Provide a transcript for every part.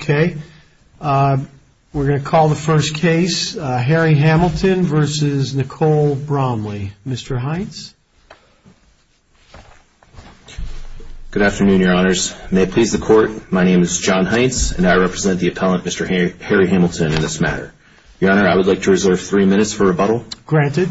Okay, we're going to call the first case, Harry Hamilton versus Nicole Bromley. Mr. Heintz. Good afternoon, your honors. May it please the court, my name is John Heintz and I represent the appellant, Mr. Harry Hamilton, in this matter. Your honor, I would like to reserve three minutes for rebuttal. Granted.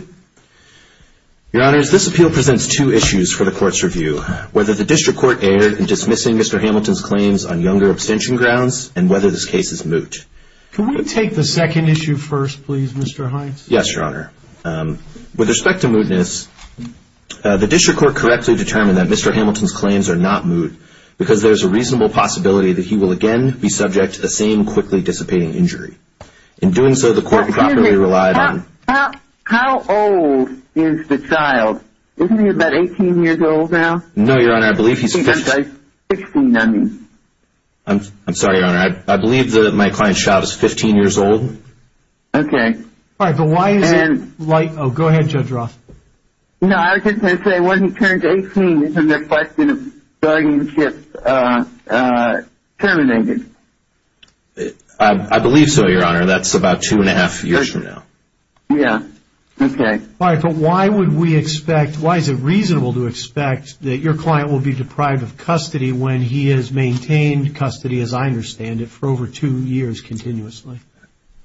Your honors, this appeal presents two issues for the court's review. Whether the district court erred in dismissing Mr. Hamilton's claims on younger abstention grounds and whether this case is moot. Can we take the second issue first, please, Mr. Heintz? Yes, your honor. With respect to mootness, the district court correctly determined that Mr. Hamilton's claims are not moot because there is a reasonable possibility that he will again be subject to the same quickly dissipating injury. In doing so, the court properly relied on... How old is the child? Isn't he about 18 years old now? No, I'm sorry, your honor. I believe that my client's child is 15 years old. Okay. All right, but why is it like... Oh, go ahead, Judge Roth. No, I was just going to say when he turned 18, isn't there a question of guardianship terminated? I believe so, your honor. That's about two and a half years from now. Yeah, okay. All right, but why would we expect... Why is it reasonable to expect that your client will be deprived of custody when he has maintained custody, as I understand it, for over two years continuously?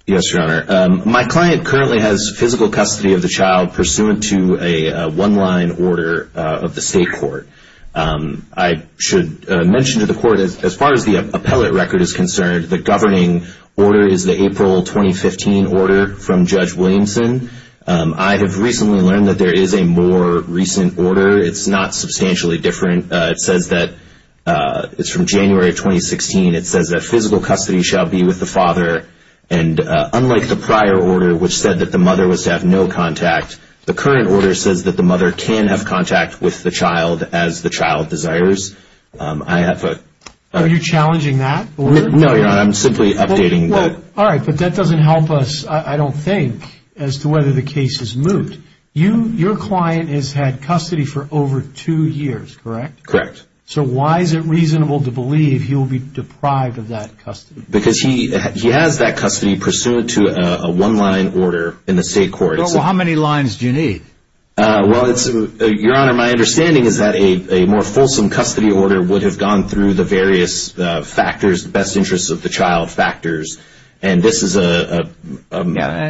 Yes, your honor. My client currently has physical custody of the child pursuant to a one-line order of the state court. I should mention to the court, as far as the appellate record is concerned, the governing order is the April 2015 order from Judge Williamson. I have recently learned that there is a more recent order. It's not substantially different. It's from January 2016. It says that physical custody shall be with the father. Unlike the prior order, which said that the mother was to have no contact, the current order says that the mother can have contact with the child as the child desires. Are you challenging that? No, your honor. I'm simply updating that. All right, but that doesn't help us, I don't think, as to whether the case is moot. Your client has custody for over two years, correct? Correct. So why is it reasonable to believe he will be deprived of that custody? Because he has that custody pursuant to a one-line order in the state court. How many lines do you need? Your honor, my understanding is that a more fulsome custody order would have gone through the various factors, best interests of the child factors, and this is a...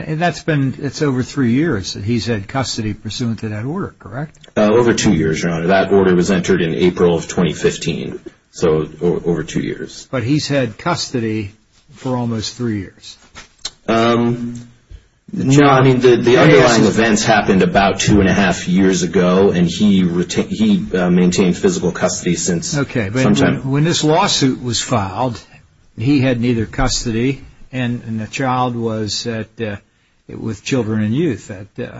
It's over three years that he's had custody pursuant to that order, correct? Over two years, your honor. That order was entered in April of 2015, so over two years. But he's had custody for almost three years? No, I mean, the underlying events happened about two and a half years ago, and he maintained physical custody since sometime... Okay, but when this lawsuit was filed, he had neither custody, and the child was with Children and Youth at the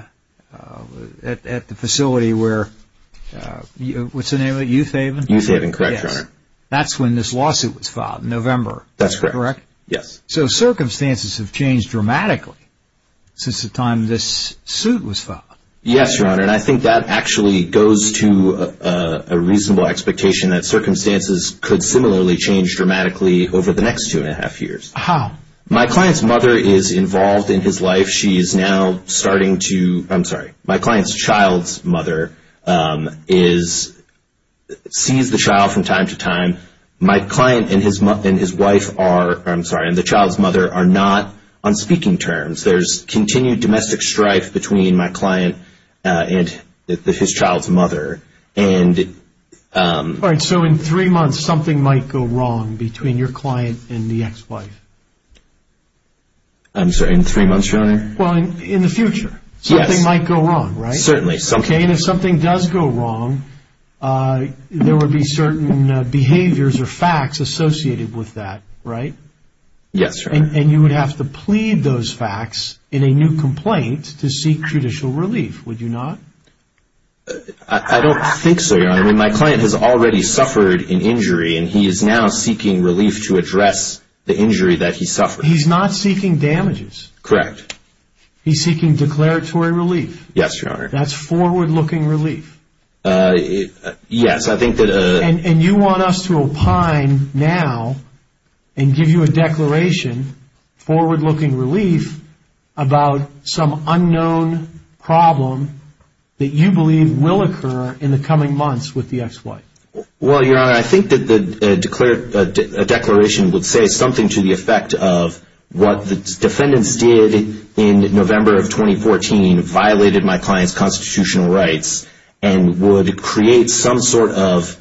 facility where... What's the name of it? Youth Haven? Youth Haven, correct, your honor. That's when this lawsuit was filed, in November, correct? That's correct, yes. So circumstances have changed dramatically since the time this suit was filed. Yes, your honor, and I think that actually goes to a reasonable expectation that circumstances could similarly change dramatically over the next two and a half years. How? My client's mother is involved in his life. She is now starting to... I'm sorry, my client's child's mother sees the child from time to time. My client and his wife are... I'm sorry, and the child's mother are not on speaking terms. There's continued domestic strife between my client and his child's mother, and... So in three months, something might go wrong between your client and the ex-wife? I'm sorry, in three months, your honor? Well, in the future, something might go wrong, right? Certainly. And if something does go wrong, there would be certain behaviors or facts associated with that, right? Yes, your honor. And you would have to plead those facts in a new complaint to seek judicial relief, would you not? I don't think so, your honor. I mean, my client has already suffered an injury, and he is now seeking relief to address the injury that he suffered. He's not seeking damages? Correct. He's seeking declaratory relief? Yes, your honor. That's forward-looking relief? Yes, I think that... And you want us to opine now and give you a declaration, forward-looking relief, about some unknown problem that you believe will occur in the coming months with the ex-wife? Well, your honor, I think that a declaration would say something to the effect of what the defendants did in November of 2014 violated my client's constitutional rights, and would create some sort of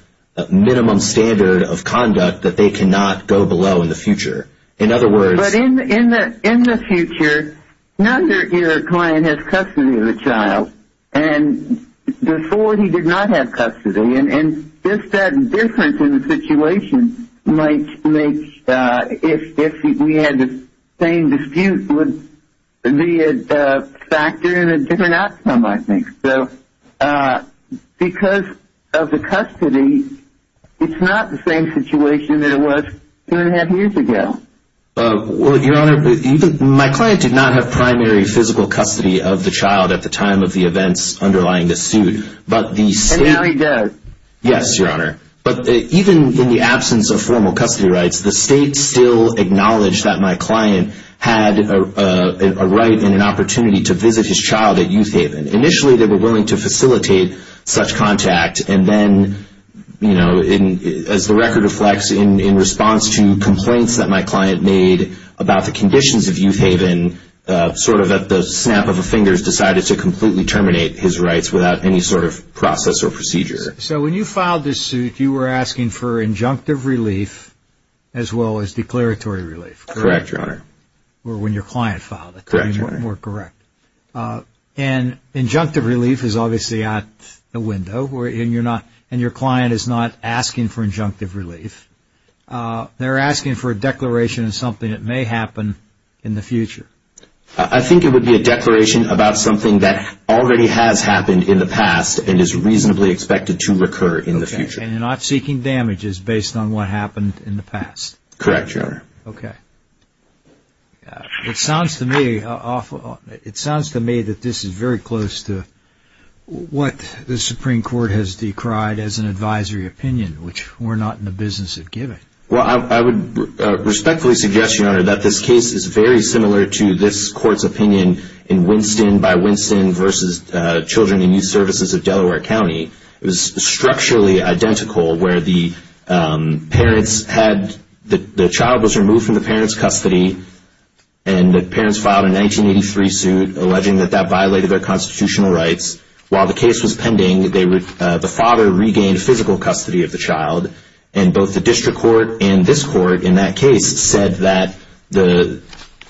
minimum standard of conduct that they cannot go below in the future. In other words... But in the future, now that your client has custody of the child, and before he did not have custody, and just that difference in the situation might make if we had the same dispute would be a factor in a different outcome, I think. So because of the custody, it's not the same situation that it was two and a half years ago. Well, your honor, my client did not have primary physical custody of the child at the time of the events underlying this suit, but the state... And now he does? Yes, your honor. But even in the absence of formal custody rights, the state still acknowledged that my client had a right and an opportunity to visit his child at Youth Haven. Initially, they were willing to facilitate such contact, and then, you know, as the record reflects, in response to complaints that my client made about the conditions of Youth Haven, sort of at the snap of the fingers, decided to completely terminate his rights without any sort of process or procedure. So when you filed this suit, you were asking for injunctive relief, or when your client filed it, to be more correct. And injunctive relief is obviously out the window, and your client is not asking for injunctive relief. They're asking for a declaration of something that may happen in the future. I think it would be a declaration about something that already has happened in the past, and is reasonably expected to recur in the future. And you're not seeking damages based on what happened in the past? Correct, your honor. Okay. It sounds to me that this is very close to what the Supreme Court has decried as an advisory opinion, which we're not in the business of giving. Well, I would respectfully suggest, your honor, that this case is very similar to this court's opinion in Winston v. Children and Youth Services of Delaware County. It was structurally identical where the child was removed from the parent's custody, and the parents filed a 1983 suit alleging that that violated their constitutional rights. While the case was pending, the father regained physical custody of the child. And both the district court and this court in that case said that the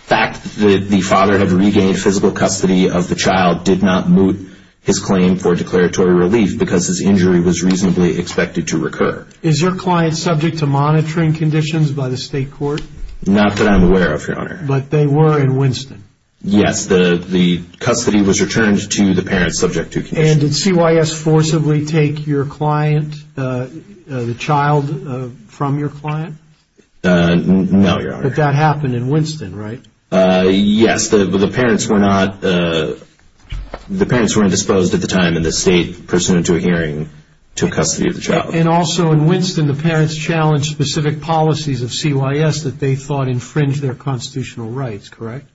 fact that the father had regained physical custody of the child did not moot his claim for declaratory relief, because his injury was reasonably expected to recur. Is your client subject to monitoring conditions by the state court? Not that I'm aware of, your honor. But they were in Winston? Yes, the custody was returned to the parents subject to conditions. And did CYS forcibly take your client, the child from your client? No, your honor. But that happened in Winston, right? Yes, the parents were not... The parents were indisposed at the time, and the state pursued into a hearing to custody of the child. And also in Winston, the parents challenged specific policies of CYS that they thought infringed their constitutional rights, correct?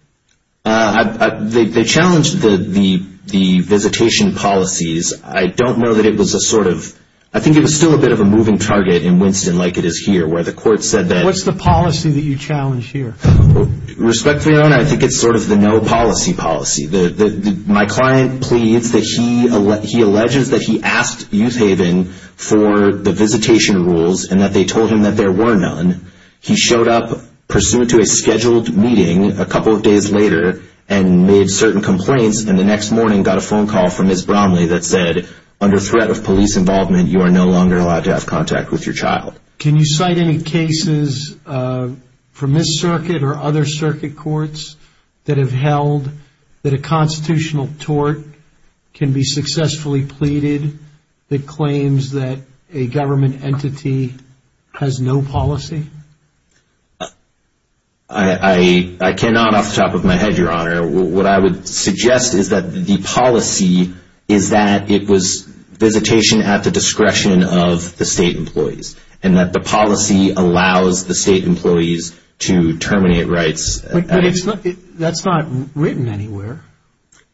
They challenged the visitation policies. I don't know that it was a sort of... I think it was still a bit of a moving target in Winston like it is here, where the court said that... What's the policy that you challenge here? Respectfully, your honor, I think it's sort of the no policy policy. My client pleads that he alleges that he asked Youth Haven for the visitation rules, and that they told him that there were none. He showed up pursuant to a scheduled meeting a couple of days later, and made certain complaints. And the next morning, got a phone call from Ms. Bromley that said, under threat of police involvement, you are no longer allowed to have contact with your child. Can you cite any cases from this circuit or other circuit courts that have held that a constitutional tort can be successfully pleaded that claims that a government entity has no policy? I cannot off the top of my head, your honor. What I would suggest is that the policy is that it was visitation at the discretion of the state employees. And that the policy allows the state employees to terminate rights. That's not written anywhere.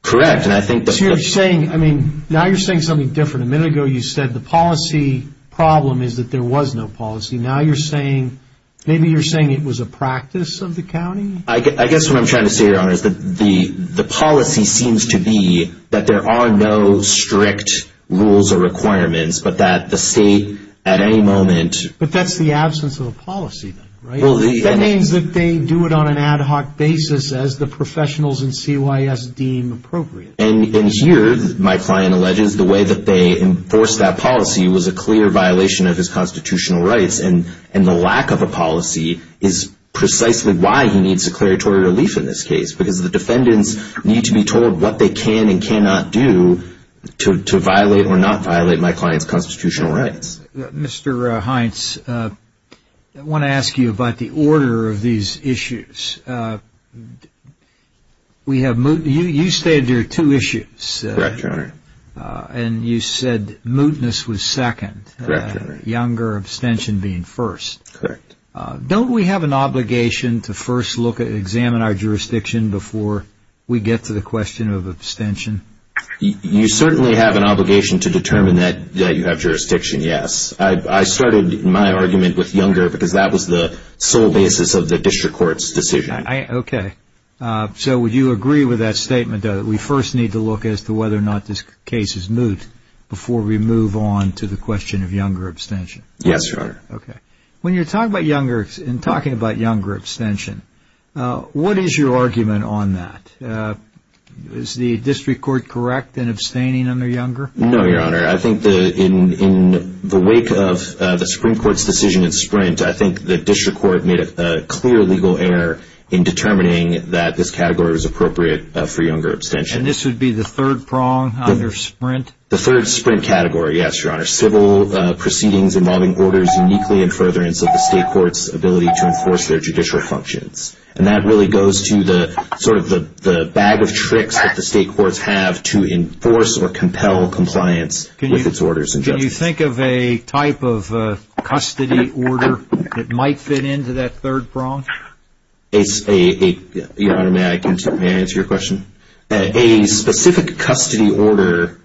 Correct, and I think that... So you're saying, I mean, now you're saying something different. A minute ago, you said the policy problem is that there was no policy. Now you're saying, maybe you're saying it was a practice of the county? I guess what I'm trying to say, your honor, is that the policy seems to be that there are no strict rules or requirements, but that the state, at any moment... But that's the absence of a policy, right? That means that they do it on an ad hoc basis as the professionals in CYS deem appropriate. And here, my client alleges, the way that they enforced that policy was a clear violation of his constitutional rights. And the lack of a policy is precisely why he needs a declaratory relief in this case. Because the defendants need to be told what they can and cannot do to violate or not violate my client's constitutional rights. Mr. Heintz, I want to ask you about the order of these issues. You stated there are two issues. Correct, your honor. And you said mootness was second. Correct, your honor. Younger abstention being first. Correct. Don't we have an obligation to first look at and examine our jurisdiction before we get to the question of abstention? You certainly have an obligation to determine that you have jurisdiction, yes. I started my argument with younger because that was the sole basis of the district court's decision. Okay, so would you agree with that statement that we first need to look as to whether or not this case is moot before we move on to the question of younger abstention? Yes, your honor. Okay. When you're talking about younger abstention, what is your argument on that? Is the district court correct in abstaining under younger? No, your honor. I think in the wake of the Supreme Court's decision in Sprint, I think the district court made a clear legal error in determining that this category was appropriate for younger abstention. And this would be the third prong under Sprint? The third Sprint category, yes, your honor. Civil proceedings involving orders uniquely in furtherance of the state court's ability to enforce their judicial functions. And that really goes to the sort of the bag of tricks that the state courts have to enforce or compel compliance with its orders. Can you think of a type of custody order that might fit into that third prong? Your honor, may I answer your question? A specific custody order,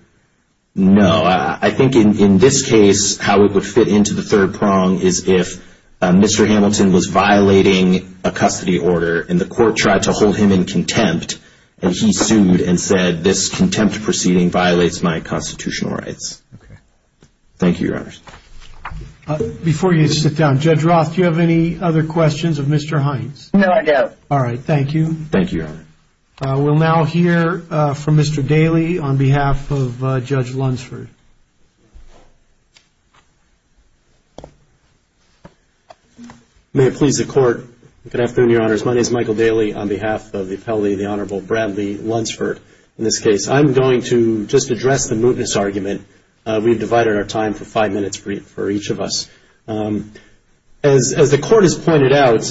no. I think in this case, how it would fit into the third prong is if Mr. Hamilton was violating a custody order and the court tried to hold him in contempt and he sued and said this contempt proceeding violates my constitutional rights. Thank you, your honor. Before you sit down, Judge Roth, do you have any other questions of Mr. Hines? No, I don't. All right, thank you. Thank you, your honor. We'll now hear from Mr. Daley on behalf of Judge Lunsford. May it please the court. Good afternoon, your honors. My name is Michael Daley on behalf of the appellee, the Honorable Bradley Lunsford. In this case, I'm going to just address the mootness argument. We've divided our time for five minutes for each of us. As the court has pointed out,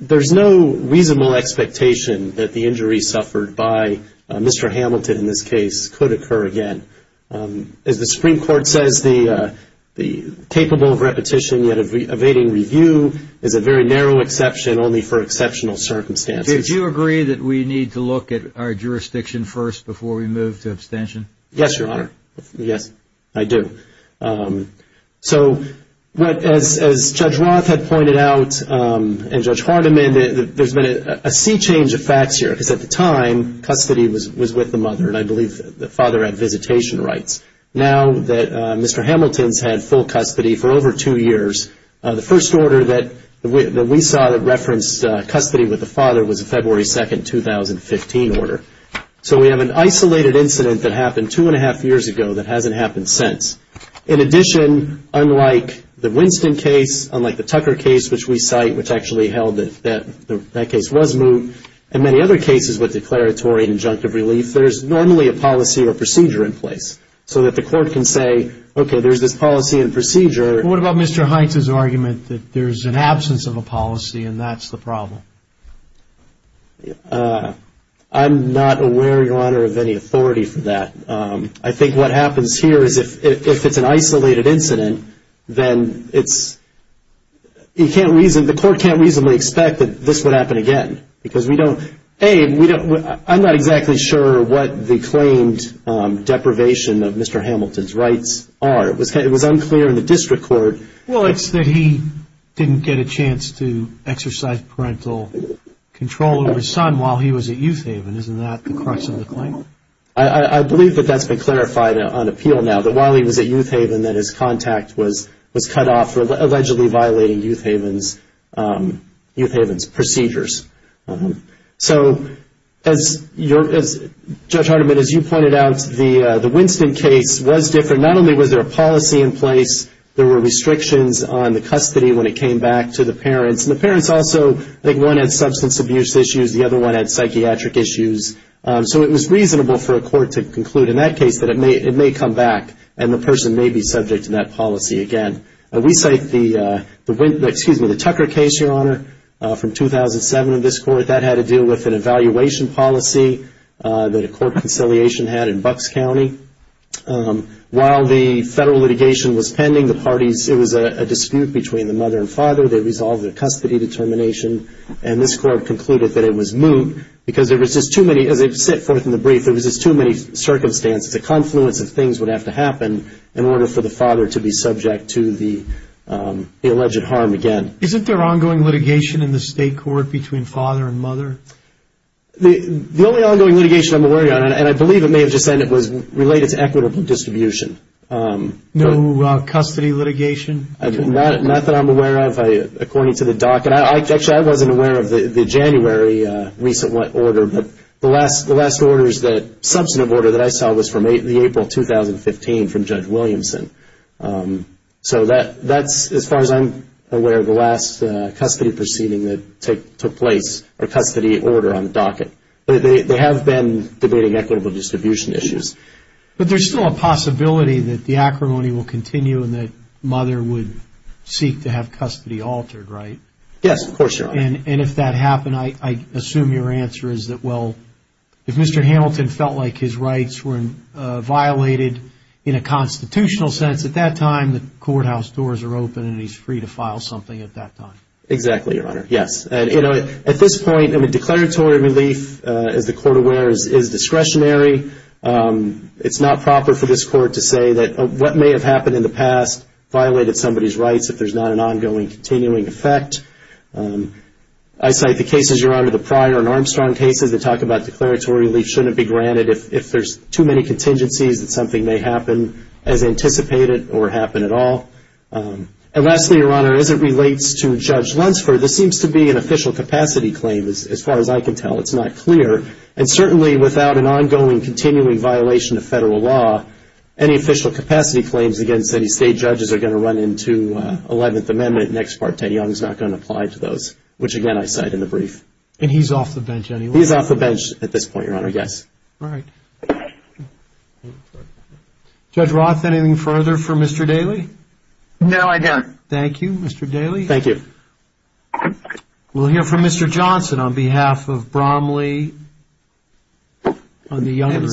there's no reasonable expectation that the injury suffered by Mr. Hamilton in this case could occur again. As the Supreme Court says, the capable of repetition yet evading review is a very narrow exception only for exceptional circumstances. Do you agree that we need to look at our jurisdiction first before we move to abstention? Yes, your honor. Yes, I do. So as Judge Roth had pointed out and Judge Hardiman, there's been a sea change of facts because at the time, custody was with the mother and I believe the father had visitation rights. Now that Mr. Hamilton's had full custody for over two years, the first order that we saw that referenced custody with the father was a February 2, 2015 order. So we have an isolated incident that happened two and a half years ago that hasn't happened since. In addition, unlike the Winston case, unlike the Tucker case, which we cite, which actually held that that case was moot, and many other cases with declaratory and injunctive relief, there's normally a policy or procedure in place so that the court can say, okay, there's this policy and procedure. What about Mr. Heintz's argument that there's an absence of a policy and that's the problem? I'm not aware, your honor, of any authority for that. I think what happens here is if it's an isolated incident, then it's, you can't reason, the court can't reasonably expect that this would happen again. Because we don't, A, we don't, I'm not exactly sure what the claimed deprivation of Mr. Hamilton's rights are. It was unclear in the district court. Well, it's that he didn't get a chance to exercise parental control of his son while he was at Youth Haven. Isn't that the crux of the claim? I believe that that's been clarified on appeal now, that while he was at Youth Haven that his contact was cut off for allegedly violating Youth Haven's procedures. So, Judge Hardiman, as you pointed out, the Winston case was different. Not only was there a policy in place, there were restrictions on the custody when it came back to the parents. And the parents also, I think one had substance abuse issues, the other one had psychiatric issues. So it was reasonable for a court to conclude in that case that it may come back. And the person may be subject to that policy again. We cite the, excuse me, the Tucker case, Your Honor, from 2007 in this court. That had to do with an evaluation policy that a court conciliation had in Bucks County. While the federal litigation was pending, the parties, it was a dispute between the mother and father. They resolved the custody determination. And this court concluded that it was moot because there was just too many, as it set forth in the brief, there was just too many circumstances. The confluence of things would have to happen in order for the father to be subject to the alleged harm again. Isn't there ongoing litigation in the state court between father and mother? The only ongoing litigation I'm aware of, and I believe it may have just ended, was related to equitable distribution. No custody litigation? Not that I'm aware of. According to the doc, and actually I wasn't aware of the January recent order. The last order is the substantive order that I saw was from April 2015 from Judge Williamson. So that's, as far as I'm aware, the last custody proceeding that took place, or custody order on the docket. They have been debating equitable distribution issues. But there's still a possibility that the acrimony will continue and that mother would seek to have custody altered, right? Yes, of course, Your Honor. And if that happened, I assume your answer is that, well, if Mr. Hamilton felt like his rights were violated in a constitutional sense, at that time, the courthouse doors are open and he's free to file something at that time. Exactly, Your Honor. Yes. At this point, declaratory relief, as the court aware, is discretionary. It's not proper for this court to say that what may have happened in the past violated somebody's rights if there's not an ongoing continuing effect. I cite the cases, Your Honor, the Pryor and Armstrong cases that talk about declaratory relief shouldn't be granted if there's too many contingencies that something may happen as anticipated or happen at all. And lastly, Your Honor, as it relates to Judge Lunsford, this seems to be an official capacity claim, as far as I can tell. It's not clear. And certainly, without an ongoing continuing violation of federal law, any official capacity claims against any state judges are going to run into Eleventh Amendment. Next Part, Ted Young is not going to apply to those, which again, I cite in the brief. And he's off the bench anyway. He's off the bench at this point, Your Honor. Yes. All right. Judge Roth, anything further for Mr. Daly? No, I don't. Thank you, Mr. Daly. Thank you. We'll hear from Mr. Johnson on behalf of Bromley on the Younger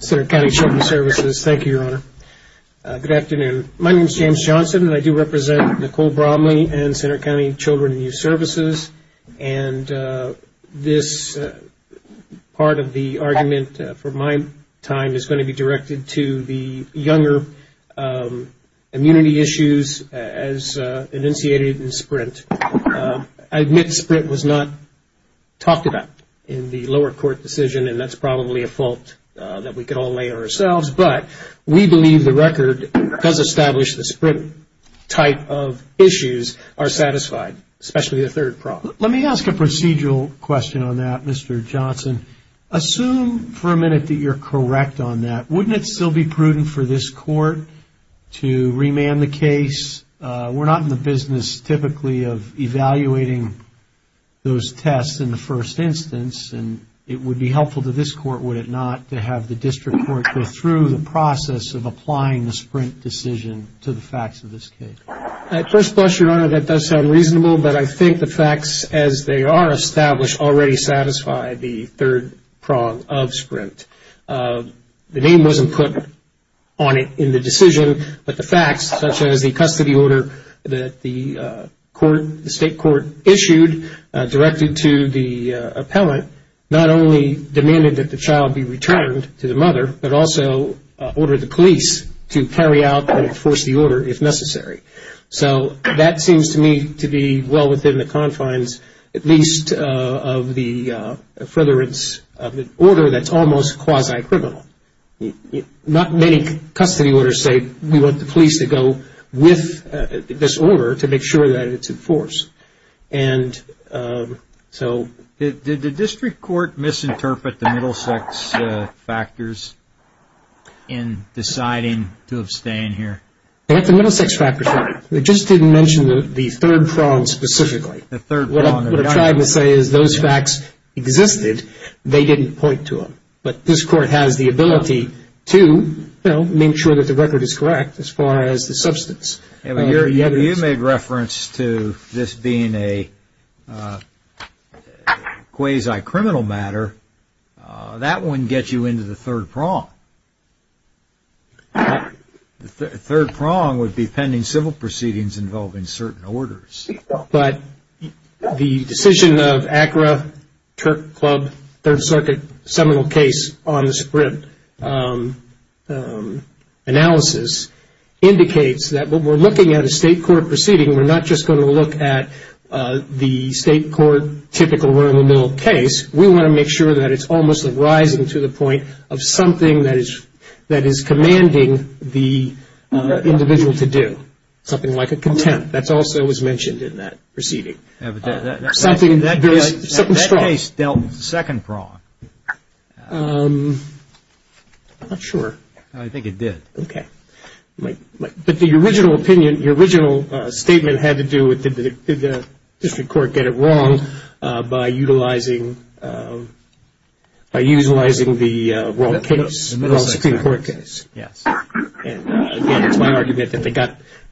Center County Children's Services. Thank you, Your Honor. Good afternoon. My name is James Johnson, and I do represent Nicole Bromley and Center County Children and Youth Services. And this part of the argument for my time is going to be directed to the Younger immunity issues as initiated in Sprint. I admit Sprint was not talked about in the lower court decision, and that's probably a fault that we could all lay on ourselves. But we believe the record does establish the Sprint type of issues are satisfied, especially the third problem. Let me ask a procedural question on that, Mr. Johnson. Assume for a minute that you're correct on that. Wouldn't it still be prudent for this court to remand the case? We're not in the business typically of evaluating those tests in the first instance. And it would be helpful to this court, would it not, to have the district court go through the process of applying the Sprint decision to the facts of this case? At first blush, Your Honor, that does sound reasonable, but I think the facts as they are established already satisfy the third prong of Sprint. The name wasn't put on it in the decision, but the facts such as the custody order that the court, the state court issued directed to the appellant not only demanded that the child be returned to the mother, but also ordered the police to carry out and enforce the order if necessary. So that seems to me to be well within the confines at least of the furtherance of an order that's almost quasi-criminal. Not many custody orders say we want the police to go with this order to make sure that it's enforced. And so did the district court misinterpret the Middlesex factors in deciding to abstain here? They let the Middlesex factors out. They just didn't mention the third prong specifically. The third prong. What I'm trying to say is those facts existed. They didn't point to them. But this court has the ability to, you know, make sure that the record is correct as far as the substance. You made reference to this being a quasi-criminal matter. That wouldn't get you into the third prong. The third prong would be pending civil proceedings involving certain orders. But the decision of ACRA, Turk Club, Third Circuit seminal case on the Sprint analysis indicates that when we're looking at a state court proceeding, we're not just going to look at the state court, typical run-of-the-mill case. We want to make sure that it's almost arising to the point of something that is commanding the individual to do. Something like a contempt. That also was mentioned in that proceeding. That case dealt with the second prong. I'm not sure. I think it did. Okay. But the original opinion, your original statement had to do with did the district court get it wrong by utilizing the wrong case? The middle section, yes. And again, it's my argument that they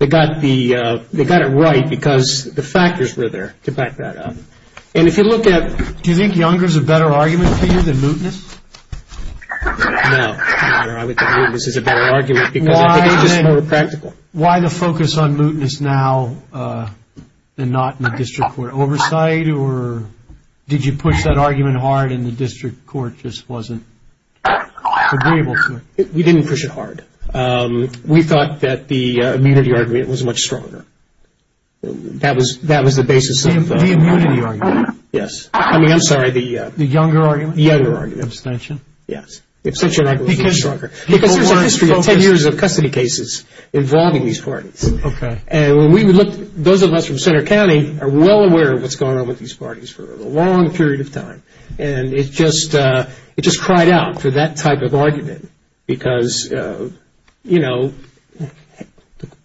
got it right because the factors were there to back that up. And if you look at... Do you think Younger's a better argument for you than Mootness? No. I would think Mootness is a better argument because it's more practical. Why the focus on Mootness now than not in the district court oversight? Or did you push that argument hard and the district court just wasn't able to? We didn't push it hard. We thought that the immunity argument was much stronger. That was the basis of... The immunity argument? Yes. I mean, I'm sorry, the... The Younger argument? The Younger argument. Abstention? Yes. The abstention argument was much stronger. Because there's a history of 10 years of custody cases involving these parties. Okay. And when we looked... Those of us from Center County are well aware of what's going on with these parties for a long period of time. And it just cried out for that type of argument because, you know,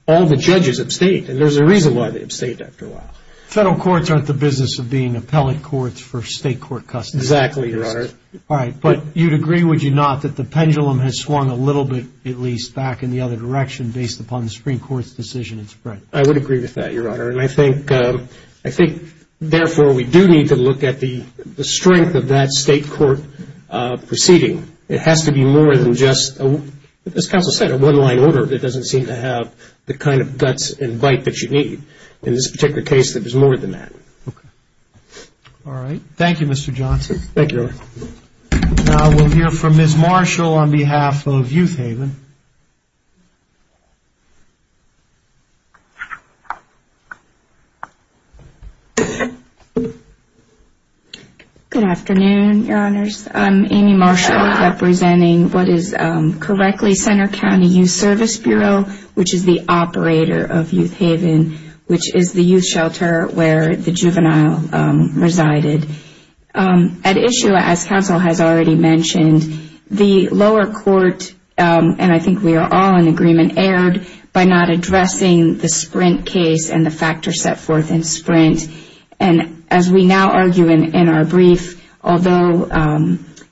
all the judges abstained. And there's a reason why they abstained after a while. Federal courts aren't the business of being appellate courts for state court custody. Exactly, Your Honor. All right. But you'd agree, would you not, that the pendulum has swung a little bit, at least, back in the other direction based upon the Supreme Court's decision and spread? I would agree with that, Your Honor. And I think, therefore, we do need to look at the strength of that state court proceeding. It has to be more than just, as counsel said, a one-line order that doesn't seem to have the kind of guts and bite that you need. In this particular case, it was more than that. Okay. All right. Thank you, Mr. Johnson. Thank you. Now, we'll hear from Ms. Marshall on behalf of Youth Haven. Good afternoon, Your Honors. I'm Amy Marshall representing what is, correctly, Center County Youth Service Bureau, which is the operator of Youth Haven, which is the youth shelter where the juvenile resided. At issue, as counsel has already mentioned, the lower court, and I think we are all in agreement, erred by not addressing the Sprint case and the factors set forth in Sprint. And as we now argue in our brief, although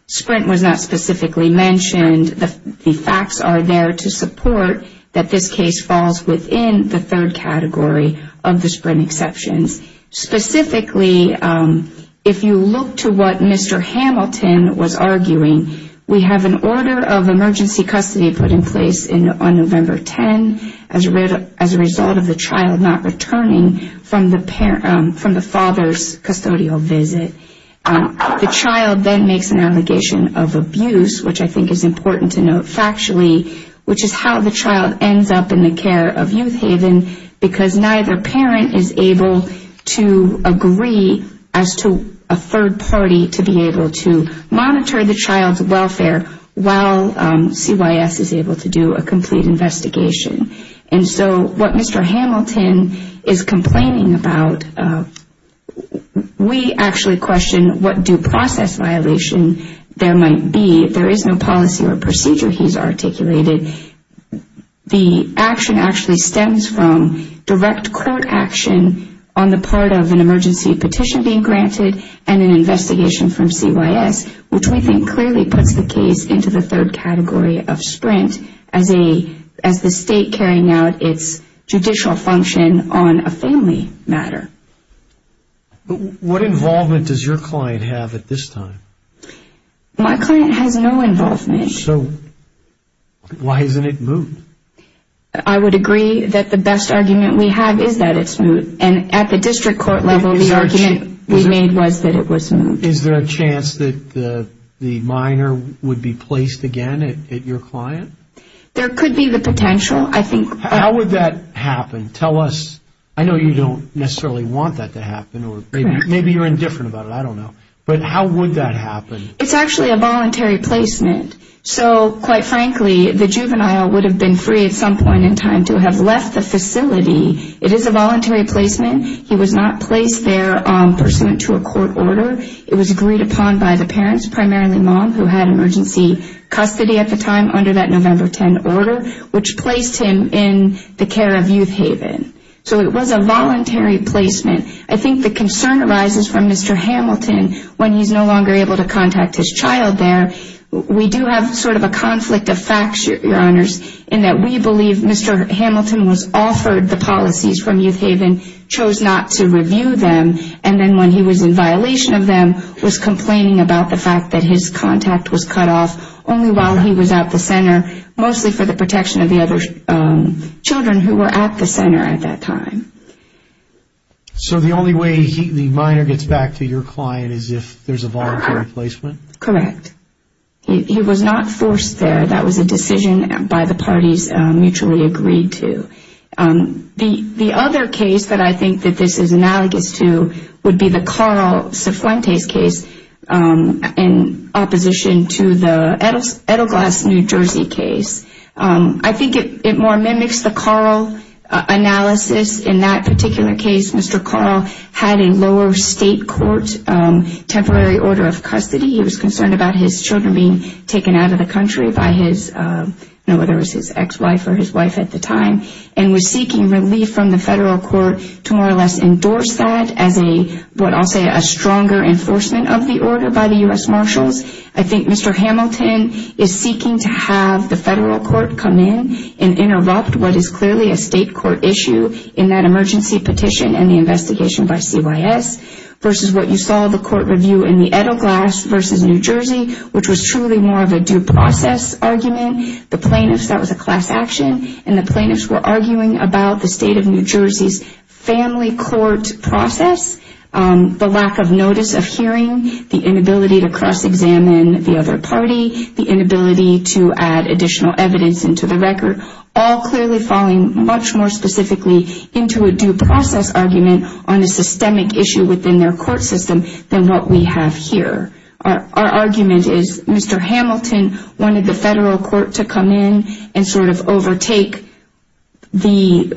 Sprint was not specifically mentioned, the facts are there to support that this case falls within the third category of the Sprint exceptions. Specifically, if you look to what Mr. Hamilton was arguing, we have an order of emergency custody put in place on November 10 as a result of the child not returning from the father's custodial visit. The child then makes an allegation of abuse, which I think is important to note factually, which is how the child ends up in the care of Youth Haven, because neither parent is able to agree as to a third party to be able to monitor the child's welfare while CYS is able to do a complete investigation. And so what Mr. Hamilton is complaining about, we actually question what due process violation there might be. There is no policy or procedure he's articulated. The action actually stems from direct court action on the part of an emergency petition being granted and an investigation from CYS, which we think clearly puts the case into the third category of Sprint as the state carrying out its judicial function on a family matter. What involvement does your client have at this time? My client has no involvement. So why isn't it moved? I would agree that the best argument we have is that it's moved. And at the district court level, the argument we made was that it was moved. Is there a chance that the minor would be placed again at your client? There could be the potential, I think. How would that happen? Tell us. I know you don't necessarily want that to happen, or maybe you're indifferent about it. I don't know. But how would that happen? It's actually a voluntary placement. So quite frankly, the juvenile would have been free at some point in time to have left the facility. It is a voluntary placement. He was not placed there pursuant to a court order. It was agreed upon by the parents, primarily mom, who had emergency custody at the time under that November 10 order, which placed him in the care of Youth Haven. So it was a voluntary placement. I think the concern arises from Mr. Hamilton when he's no longer able to contact his child there. We do have sort of a conflict of facts, Your Honors, in that we believe Mr. Hamilton was offered the policies from Youth Haven, chose not to review them, and then when he was in violation of them, was complaining about the fact that his contact was cut off only while he was at the center, mostly for the protection of the other children who were at the center at that time. So the only way the minor gets back to your client is if there's a voluntary placement? Correct. He was not forced there. That was a decision by the parties mutually agreed to. The other case that I think that this is analogous to would be the Carl Cifuentes case in opposition to the Edelglass, New Jersey case. I think it more mimics the Carl analysis in that particular case. Mr. Carl had a lower state court temporary order of custody. He was concerned about his children being taken out of the country by his, whether it was his ex-wife or his wife at the time, and was seeking relief from the federal court to more or less endorse that as a, what I'll say, a stronger enforcement of the order by the U.S. Marshals. I think Mr. Hamilton is seeking to have the federal court come in and interrupt what is clearly a state court issue in that emergency petition and the investigation by CYS versus what you saw the court review in the Edelglass versus New Jersey, which was truly more of a due process argument. The plaintiffs, that was a class action, and the plaintiffs were arguing about the state of New Jersey's family court process, the lack of notice of hearing, the inability to cross-examine the other party, the inability to add additional evidence into the record, all clearly falling much more specifically into a due process argument on a systemic issue within their court system than what we have here. Our argument is Mr. Hamilton wanted the federal court to come in and sort of overtake the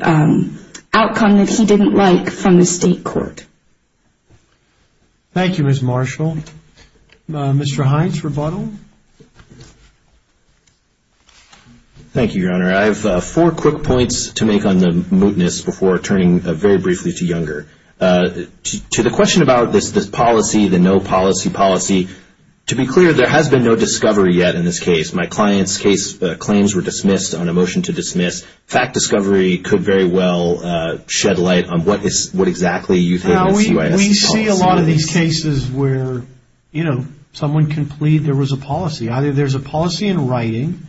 outcome that he didn't like from the state court. Thank you, Ms. Marshall. Mr. Hines, rebuttal. Thank you, Your Honor. I have four quick points to make on the mootness before turning very briefly to Younger. To the question about this policy, the no policy policy, to be clear, there has been no discovery yet in this case. My client's case claims were dismissed on a motion to dismiss. Fact discovery could very well shed light on what exactly you think. We see a lot of these cases where, you know, someone can plead there was a policy. Either there's a policy in writing,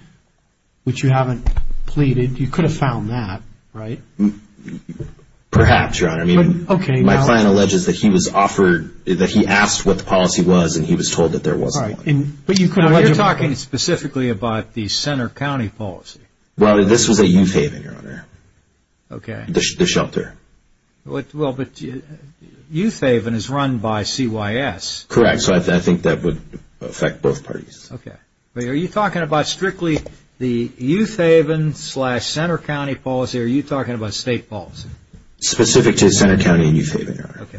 which you haven't pleaded. You could have found that, right? Perhaps, Your Honor. I mean, my client alleges that he was offered, that he asked what the policy was and he was told that there wasn't one. But you're talking specifically about the Center County policy. Well, this was a youth haven, Your Honor. Okay. The shelter. Well, but youth haven is run by CYS. Correct. So I think that would affect both parties. Okay. But are you talking about strictly the youth haven slash Center County policy? Are you talking about state policy? Specific to Center County and youth haven, Your Honor. Okay.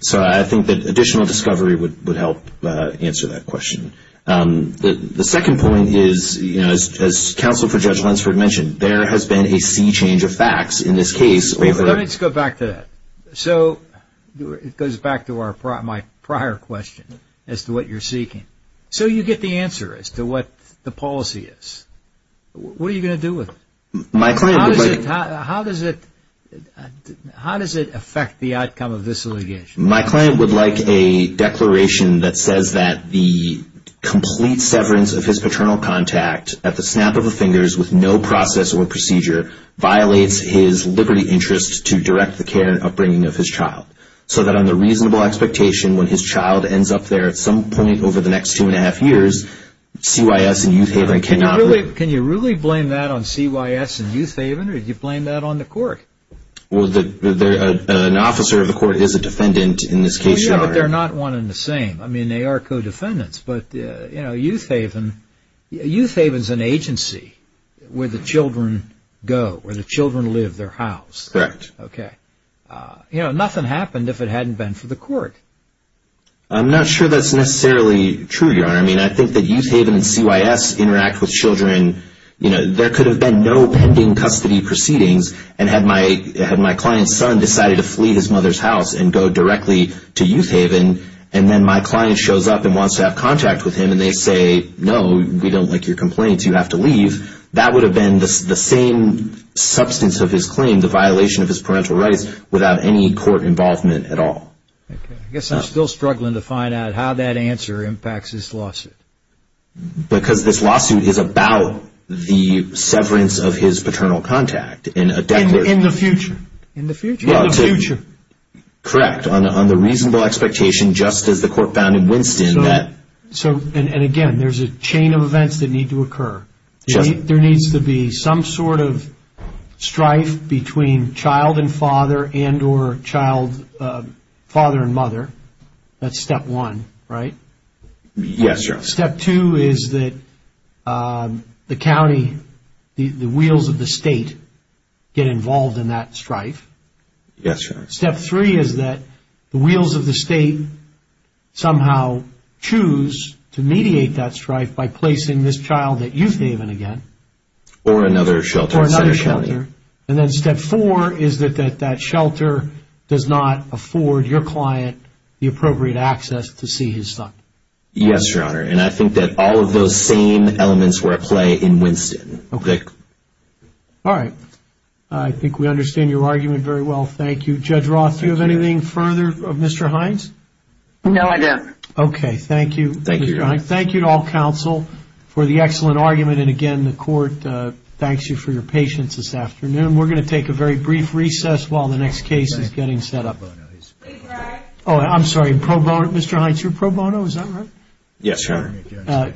So I think that additional discovery would help answer that question. The second point is, you know, as counsel for Judge Lunsford mentioned, there has been a sea change of facts in this case over- Let me just go back to that. So it goes back to my prior question as to what you're seeking. So you get the answer as to what the policy is. What are you going to do with it? My client would like- How does it affect the outcome of this litigation? My client would like a declaration that says that the complete severance of his paternal contact at the snap of the fingers with no process or procedure violates his liberty interest to direct the care and upbringing of his child. So that on the reasonable expectation, when his child ends up there at some point over the next two and a half years, CYS and youth haven cannot- Can you really blame that on CYS and youth haven? Or did you blame that on the court? Well, an officer of the court is a defendant in this case, Your Honor. Well, yeah, but they're not one and the same. They are co-defendants, but youth haven is an agency where the children go, where the children live their house. Correct. Okay. Nothing happened if it hadn't been for the court. I'm not sure that's necessarily true, Your Honor. I mean, I think that youth haven and CYS interact with children. There could have been no pending custody proceedings and had my client's son decided to flee his mother's house and go directly to youth haven, and then my client shows up and wants to have contact with him and they say, no, we don't like your complaints. You have to leave. That would have been the same substance of his claim, the violation of his parental rights without any court involvement at all. Okay. I guess I'm still struggling to find out how that answer impacts this lawsuit. Because this lawsuit is about the severance of his paternal contact in a- In the future. In the future. In the future. Correct. On the reasonable expectation, just as the court found in Winston that- And again, there's a chain of events that need to occur. There needs to be some sort of strife between child and father and or child, father and mother. That's step one, right? Yes, Your Honor. Step two is that the county, the wheels of the state get involved in that strife. Yes, Your Honor. Step three is that the wheels of the state somehow choose to mediate that strife by placing this child at Youth Haven again. Or another shelter. Or another shelter. And then step four is that that shelter does not afford your client the appropriate access to see his son. Yes, Your Honor. And I think that all of those same elements were at play in Winston. Okay. All right. I think we understand your argument very well. Judge Roth, do you have anything further of Mr. Hines? No, I don't. Okay. Thank you, Mr. Hines. Thank you to all counsel for the excellent argument. And again, the court thanks you for your patience this afternoon. We're going to take a very brief recess while the next case is getting set up. Oh, I'm sorry, Mr. Hines, you're pro bono, is that right? Yes, Your Honor.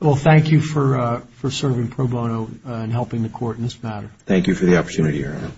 Well, thank you for serving pro bono and helping the court in this matter. Thank you for the opportunity, Your Honor.